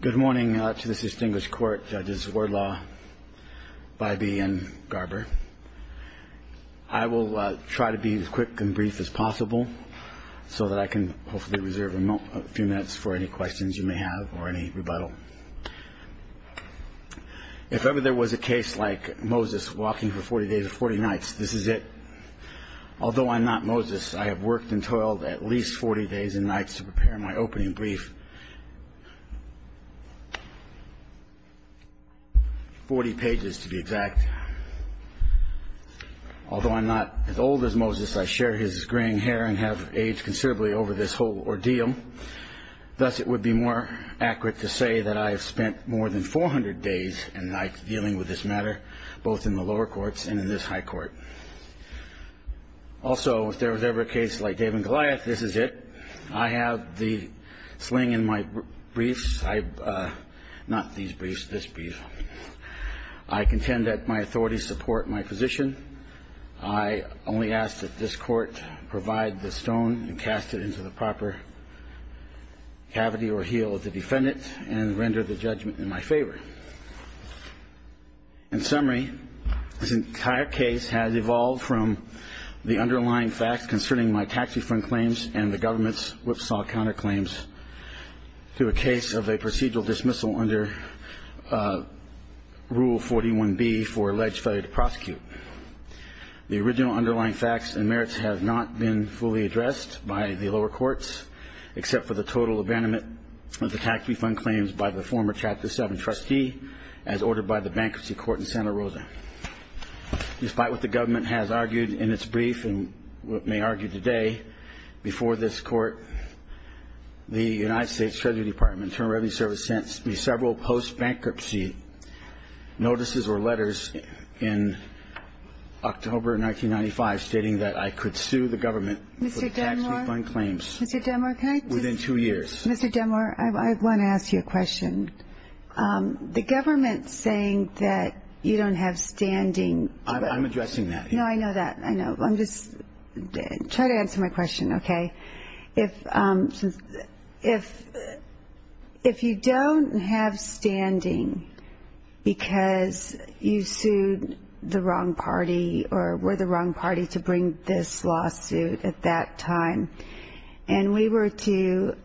Good morning to this distinguished court, Judges Wardlaw, Bybee, and Garber. I will try to be as quick and brief as possible so that I can hopefully reserve a few minutes for any questions you may have or any rebuttal. If ever there was a case like Moses walking for 40 days or 40 nights, this is it. Although I'm not Moses, I have worked and toiled at least 40 days and nights to prepare my opening brief. Forty pages to be exact. Although I'm not as old as Moses, I share his graying hair and have aged considerably over this whole ordeal. Thus, it would be more accurate to say that I have spent more than 400 days and nights dealing with this matter, both in the lower courts and in this high court. Also, if there was ever a case like Dave and Goliath, this is it. I have the sling in my briefs. Not these briefs, this brief. I contend that my authorities support my position. I only ask that this court provide the stone and cast it into the proper cavity or heel of the defendant and render the judgment in my favor. In summary, this entire case has evolved from the underlying facts concerning my tax refund claims and the government's whipsaw counterclaims to a case of a procedural dismissal under Rule 41B for alleged failure to prosecute. The original underlying facts and merits have not been fully addressed by the lower courts, except for the total abandonment of the tax refund claims by the former Chapter 7 trustee, as ordered by the Bankruptcy Court in Santa Rosa. Despite what the government has argued in its brief and what may argue today before this court, the United States Treasury Department Internal Revenue Service sent me several post-bankruptcy notices or letters in October 1995, stating that I could sue the government for tax refund claims. Mr. Demore, can I just... Within two years. Mr. Demore, I want to ask you a question. The government saying that you don't have standing... I'm addressing that. No, I know that. I know. I'm just... Try to answer my question, okay? If you don't have standing because you sued the wrong party or were the wrong party to bring this lawsuit at that time, and we were to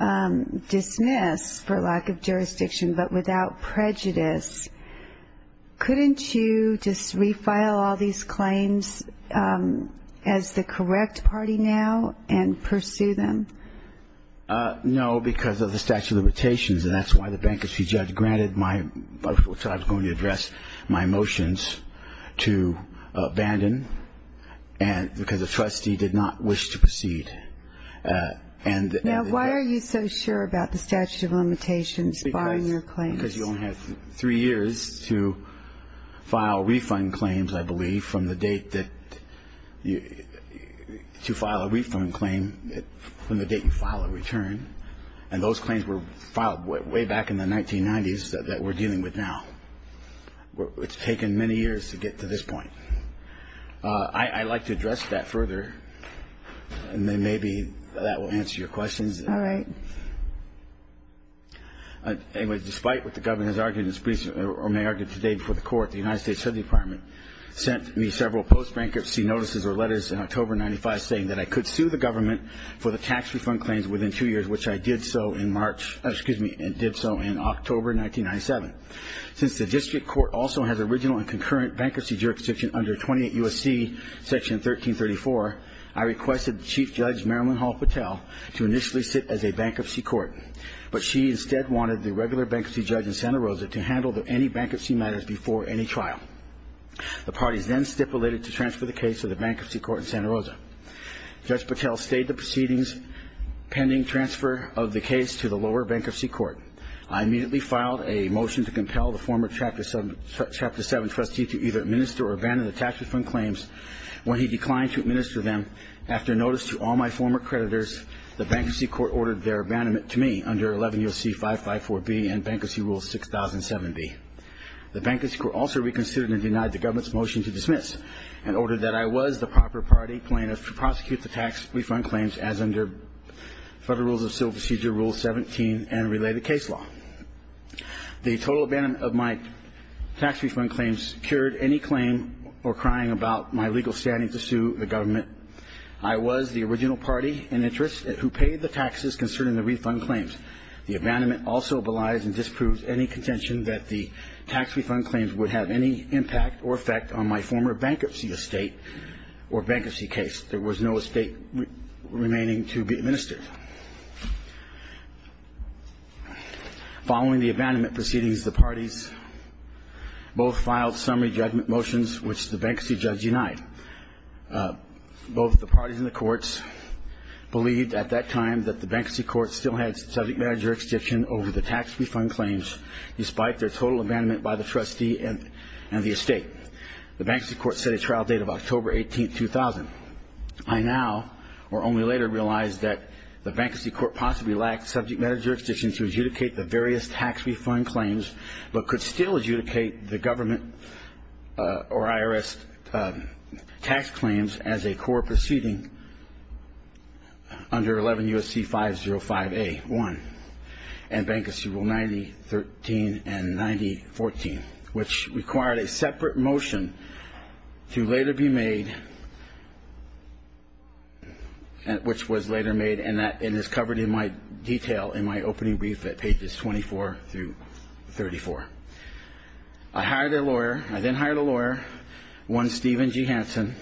dismiss for lack of jurisdiction but without prejudice, couldn't you just refile all these claims as the correct party now and pursue them? No, because of the statute of limitations, and that's why the bankruptcy judge granted my... which I was going to address, my motions to abandon because the trustee did not wish to proceed. Now, why are you so sure about the statute of limitations barring your claims? Because you only have three years to file refund claims, I believe, from the date that you... to file a refund claim from the date you file a return, and those claims were filed way back in the 1990s that we're dealing with now. It's taken many years to get to this point. I'd like to address that further, and then maybe that will answer your questions. All right. Anyway, despite what the government has argued or may argue today before the court, the United States Health Department sent me several post-bankruptcy notices or letters in October 1995 saying that I could sue the government for the tax refund claims within two years, which I did so in March, excuse me, and did so in October 1997. Since the district court also has original and concurrent bankruptcy jurisdiction under 28 U.S.C. Section 1334, I requested Chief Judge Marilyn Hall Patel to initially sit as a bankruptcy court. But she instead wanted the regular bankruptcy judge in Santa Rosa to handle any bankruptcy matters before any trial. The parties then stipulated to transfer the case to the bankruptcy court in Santa Rosa. Judge Patel stayed the proceedings pending transfer of the case to the lower bankruptcy court. I immediately filed a motion to compel the former Chapter 7 trustee to either administer or abandon the tax refund claims. When he declined to administer them, after notice to all my former creditors, the bankruptcy court ordered their abandonment to me under 11 U.S.C. 554B and Bankruptcy Rule 6070. The bankruptcy court also reconsidered and denied the government's motion to dismiss and ordered that I was the proper party plaintiff to prosecute the tax refund claims as under Federal Rules of Civil Procedure Rule 17 and related case law. The total abandonment of my tax refund claims cured any claim or crying about my legal standing to sue the government. I was the original party in interest who paid the taxes concerning the refund claims. The abandonment also belies and disproves any contention that the tax refund claims would have any impact or effect on my former bankruptcy estate or bankruptcy case. There was no estate remaining to be administered. Following the abandonment proceedings, the parties both filed summary judgment motions which the bankruptcy judge denied. Both the parties in the courts believed at that time that the bankruptcy court still had subject matter jurisdiction over the tax refund claims despite their total abandonment by the trustee and the estate. The bankruptcy court set a trial date of October 18, 2000. I now or only later realized that the bankruptcy court possibly lacked subject matter jurisdiction to adjudicate the various tax refund claims but could still adjudicate the government or IRS tax claims as a core proceeding under 11 U.S.C. 505A1 and Bankruptcy Rule 9013 and 9014, which required a separate motion to later be made which was later made and is covered in my detail in my opening brief at pages 24 through 34. I hired a lawyer. I then hired a lawyer, one Steven G. Hansen,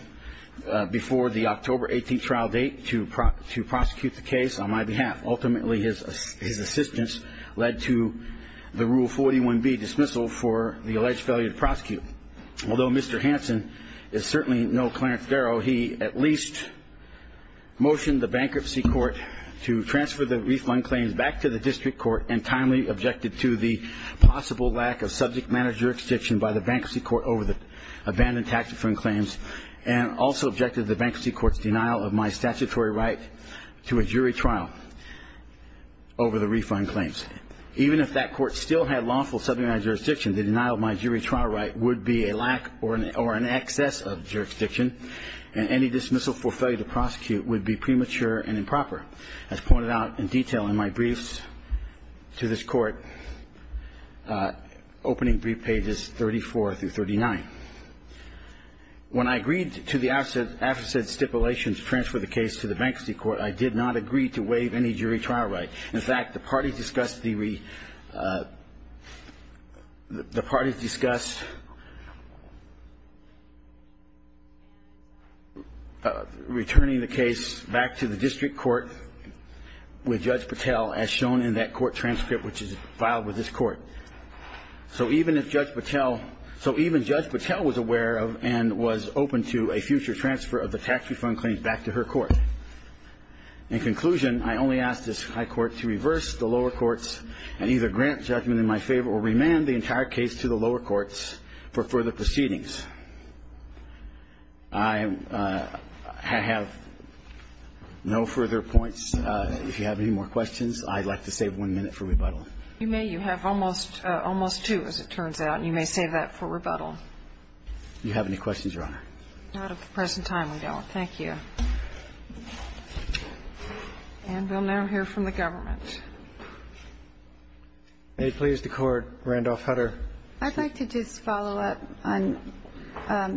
before the October 18 trial date to prosecute the case on my behalf. Ultimately, his assistance led to the Rule 41B dismissal for the alleged failure to prosecute. Although Mr. Hansen is certainly no Clarence Darrow, he at least motioned the bankruptcy court to transfer the refund claims back to the district court and timely objected to the possible lack of subject matter jurisdiction by the bankruptcy court over the abandoned tax refund claims and also objected to the bankruptcy court's denial of my statutory right to a jury trial over the refund claims. Even if that court still had lawful subject matter jurisdiction, the denial of my jury trial right would be a lack or an excess of jurisdiction, and any dismissal for failure to prosecute would be premature and improper, as pointed out in detail in my briefs to this court, opening brief pages 34 through 39. When I agreed to the after said stipulations to transfer the case to the bankruptcy court, I did not agree to waive any jury trial right. In fact, the parties discussed returning the case back to the district court with Judge Patel as shown in that court transcript which is filed with this court. So even if Judge Patel was aware of and was open to a future transfer of the tax refund claims back to her court. In conclusion, I only ask this High Court to reverse the lower courts and either grant judgment in my favor or remand the entire case to the lower courts for further proceedings. I have no further points. If you have any more questions, I'd like to save one minute for rebuttal. You may. You have almost two, as it turns out, and you may save that for rebuttal. Do you have any questions, Your Honor? Not at the present time, we don't. Thank you. And we'll now hear from the government. May it please the Court, Randolph Hutter. I'd like to just follow up on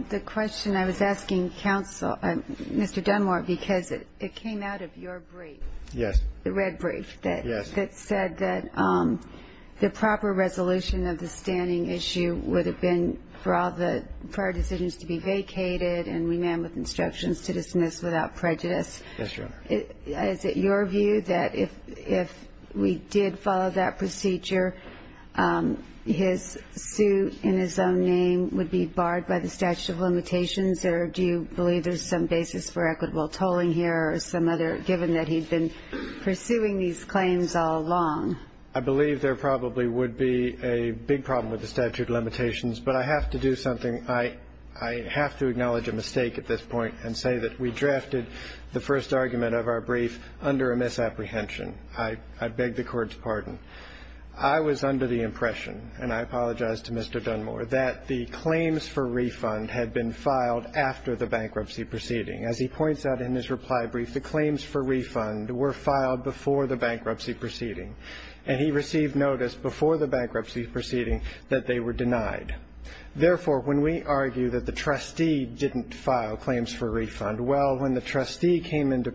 the question I was asking counsel, Mr. Dunmore, because it came out of your brief. Yes. The red brief. Yes. That said that the proper resolution of the standing issue would have been for all the prior decisions to be vacated and remanded with instructions to dismiss without prejudice. Yes, Your Honor. Is it your view that if we did follow that procedure, his suit in his own name would be barred by the statute of limitations, or do you believe there's some basis for equitable tolling here or some other, given that he'd been pursuing these claims all along? I believe there probably would be a big problem with the statute of limitations, but I have to do something. I have to acknowledge a mistake at this point and say that we drafted the first argument of our brief under a misapprehension. I beg the Court's pardon. I was under the impression, and I apologize to Mr. Dunmore, that the claims for refund had been filed after the bankruptcy proceeding. As he points out in his reply brief, the claims for refund were filed before the bankruptcy proceeding, and he received notice before the bankruptcy proceeding that they were denied. Therefore, when we argue that the trustee didn't file claims for refund, well, when the trustee came into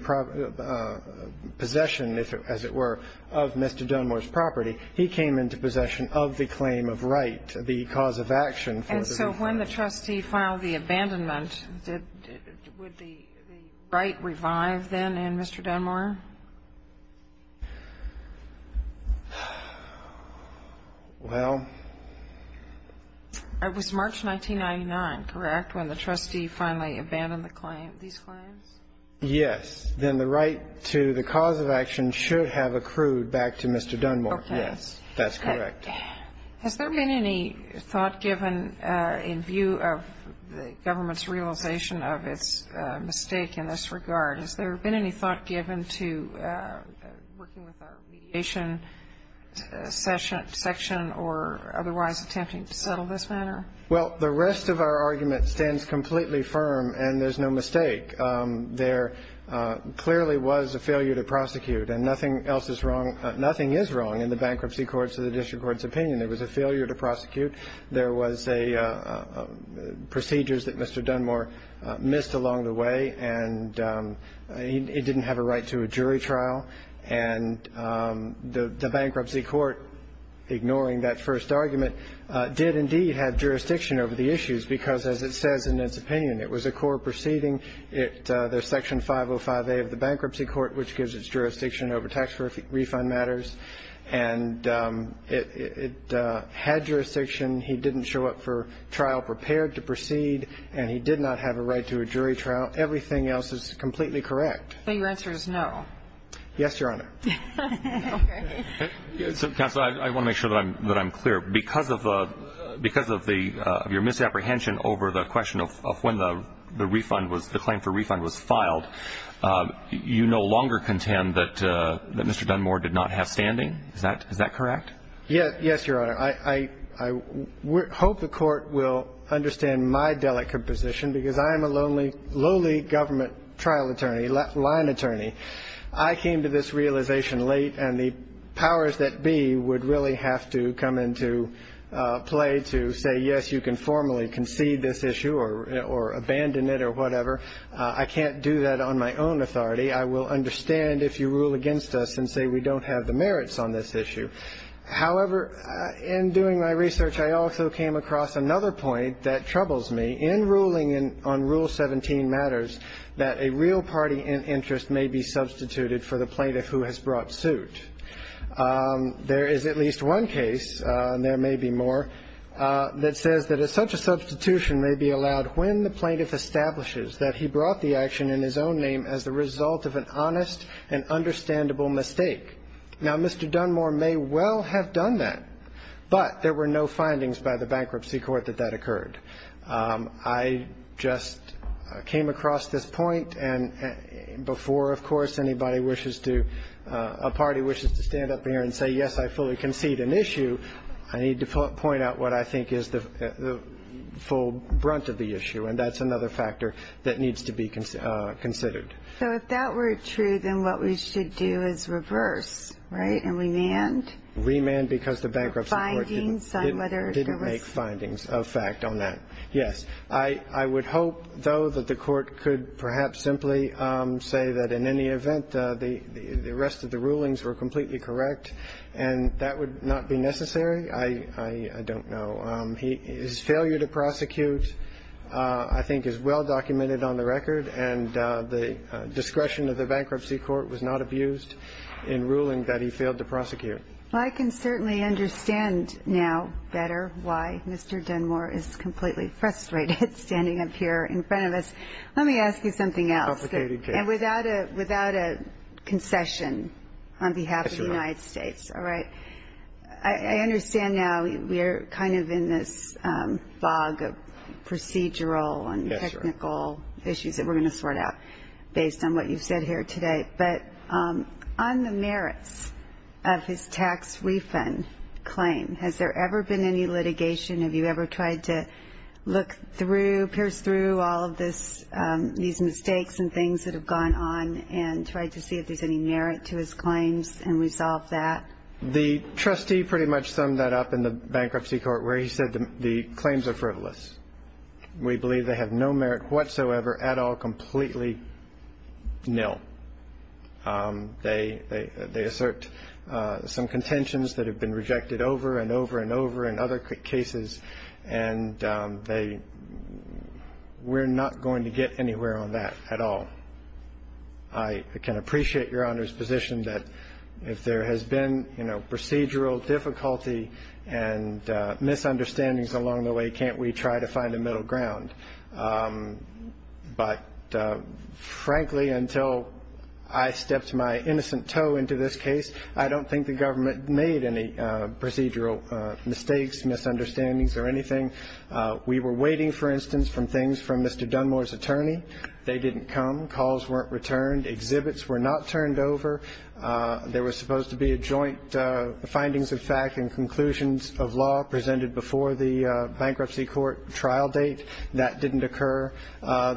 possession, as it were, of Mr. Dunmore's property, he came into possession of the claim of right, the cause of action for the refund. And so when the trustee filed the abandonment, would the right revive then in Mr. Dunmore? Well. It was March 1999, correct, when the trustee finally abandoned the claim, these claims? Yes. Then the right to the cause of action should have accrued back to Mr. Dunmore. Okay. Yes. That's correct. Has there been any thought given in view of the government's realization of its mistake in this regard? Has there been any thought given to working with our mediation section or otherwise attempting to settle this matter? Well, the rest of our argument stands completely firm, and there's no mistake. There clearly was a failure to prosecute, and nothing else is wrong in the bankruptcy court's or the district court's opinion. There was a failure to prosecute. There was procedures that Mr. Dunmore missed along the way, and he didn't have a right to a jury trial. And the bankruptcy court, ignoring that first argument, did indeed have jurisdiction over the issues because, as it says in its opinion, it was a court proceeding. There's Section 505A of the bankruptcy court, which gives its jurisdiction over tax refund matters. And it had jurisdiction. He didn't show up for trial prepared to proceed, and he did not have a right to a jury trial. Everything else is completely correct. So your answer is no? Yes, Your Honor. Okay. Counsel, I want to make sure that I'm clear. Because of your misapprehension over the question of when the claim for refund was filed, you no longer contend that Mr. Dunmore did not have standing? Is that correct? Yes, Your Honor. I hope the court will understand my delicate position because I am a lowly government trial attorney, line attorney. I came to this realization late, and the powers that be would really have to come into play to say, yes, you can formally concede this issue or abandon it or whatever. I can't do that on my own authority. I will understand if you rule against us and say we don't have the merits on this issue. However, in doing my research, I also came across another point that troubles me. In ruling on Rule 17 matters that a real party interest may be substituted for the plaintiff who has brought suit. There is at least one case, and there may be more, that says that such a substitution may be allowed when the plaintiff establishes that he brought the action in his own name as the result of an honest and understandable mistake. Now, Mr. Dunmore may well have done that, but there were no findings by the bankruptcy court that that occurred. I just came across this point. And before, of course, anybody wishes to, a party wishes to stand up here and say, yes, I fully concede an issue, I need to point out what I think is the full brunt of the issue, and that's another factor that needs to be considered. So if that were true, then what we should do is reverse, right, and remand? Remand because the bankruptcy court didn't make findings of fact on that. Yes. I would hope, though, that the court could perhaps simply say that in any event, the rest of the rulings were completely correct, and that would not be necessary. I don't know. His failure to prosecute I think is well documented on the record, and the discretion of the bankruptcy court was not abused in ruling that he failed to prosecute. Well, I can certainly understand now better why Mr. Dunmore is completely frustrated standing up here in front of us. Let me ask you something else. Complicated case. And without a concession on behalf of the United States. All right. I understand now we are kind of in this fog of procedural and technical issues that we're going to sort out, based on what you've said here today. But on the merits of his tax refund claim, has there ever been any litigation? Have you ever tried to look through, pierce through all of these mistakes and things that have gone on and tried to see if there's any merit to his claims and resolve that? The trustee pretty much summed that up in the bankruptcy court where he said the claims are frivolous. We believe they have no merit whatsoever at all, completely nil. They assert some contentions that have been rejected over and over and over in other cases, and we're not going to get anywhere on that at all. I can appreciate Your Honor's position that if there has been procedural difficulty and misunderstandings along the way, can't we try to find a middle ground? But, frankly, until I stepped my innocent toe into this case, I don't think the government made any procedural mistakes, misunderstandings or anything. We were waiting, for instance, for things from Mr. Dunmore's attorney. They didn't come. Calls weren't returned. Exhibits were not turned over. There was supposed to be a joint findings of fact and conclusions of law presented before the bankruptcy court trial date. That didn't occur.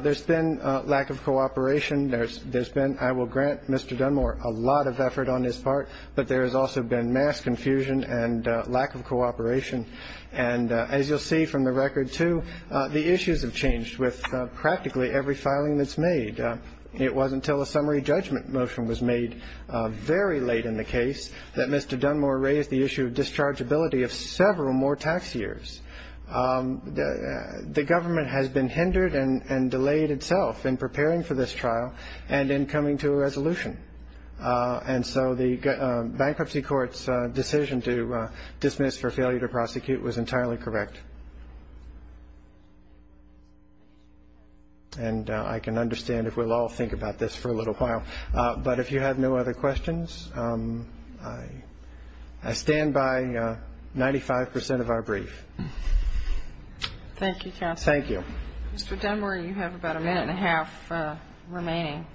There's been lack of cooperation. There's been, I will grant Mr. Dunmore, a lot of effort on his part, but there has also been mass confusion and lack of cooperation. And as you'll see from the record, too, the issues have changed with practically every filing that's made. It wasn't until a summary judgment motion was made very late in the case that Mr. Dunmore raised the issue of dischargeability of several more tax years. The government has been hindered and delayed itself in preparing for this trial and in coming to a resolution. And so the bankruptcy court's decision to dismiss for failure to prosecute was entirely correct. And I can understand if we'll all think about this for a little while. But if you have no other questions, I stand by 95 percent of our brief. Thank you, counsel. Thank you. Mr. Dunmore, you have about a minute and a half remaining.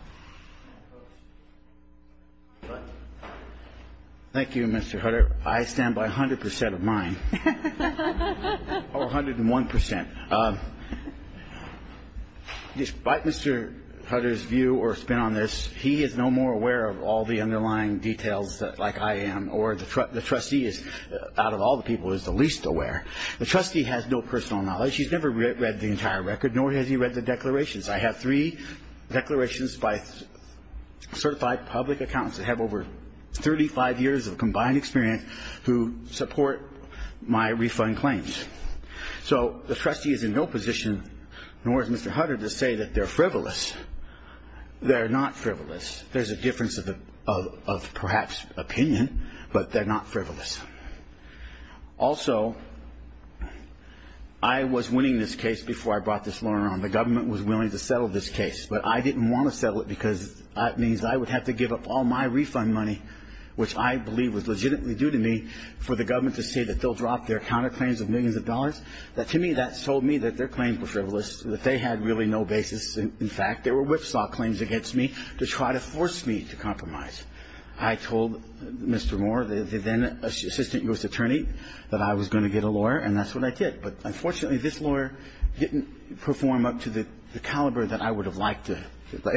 Thank you, Mr. Hutter. I stand by 100 percent of mine. Or 101 percent. Despite Mr. Hutter's view or spin on this, he is no more aware of all the underlying details like I am, or the trustee is, out of all the people, is the least aware. The trustee has no personal knowledge. He's never read the entire record, nor has he read the declarations. I have three declarations by certified public accountants that have over 35 years of combined experience who support my refund claims. So the trustee is in no position, nor is Mr. Hutter, to say that they're frivolous. They're not frivolous. There's a difference of perhaps opinion, but they're not frivolous. Also, I was winning this case before I brought this lawyer on. The government was willing to settle this case. But I didn't want to settle it because that means I would have to give up all my refund money, which I believe was legitimately due to me, for the government to say that they'll drop their counterclaims of millions of dollars. To me, that told me that their claims were frivolous, that they had really no basis. In fact, there were whipsaw claims against me to try to force me to compromise. I told Mr. Moore, the then-assistant U.S. attorney, that I was going to get a lawyer, and that's what I did. But unfortunately, this lawyer didn't perform up to the caliber that I would have liked to,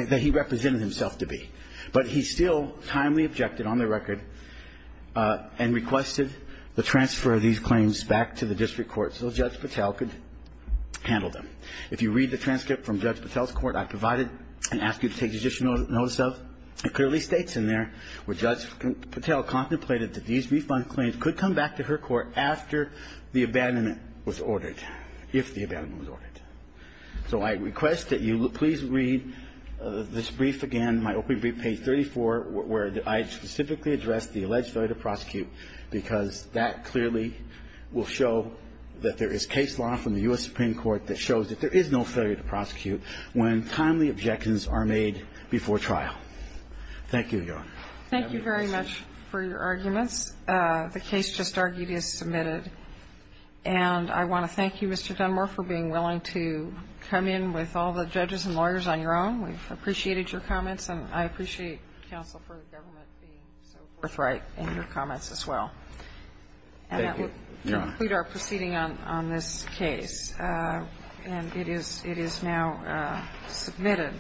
that he represented himself to be. But he still timely objected on the record and requested the transfer of these claims back to the district court so Judge Patel could handle them. If you read the transcript from Judge Patel's court I provided and ask you to take judicial notice of, it clearly states in there where Judge Patel contemplated that these refund claims could come back to her court after the abandonment was ordered, if the abandonment was ordered. So I request that you please read this brief again, my opening brief, page 34, where I specifically address the alleged failure to prosecute, because that clearly will show that there is case law from the U.S. Supreme Court that shows that there is no failure to prosecute when timely objections are made before trial. Thank you, Your Honor. Thank you very much for your arguments. The case just argued is submitted. And I want to thank you, Mr. Dunmore, for being willing to come in with all the judges and lawyers on your own. We've appreciated your comments, and I appreciate counsel for the government being so forthright in your comments as well. Thank you, Your Honor. And that will conclude our proceeding on this case, and it is now submitted.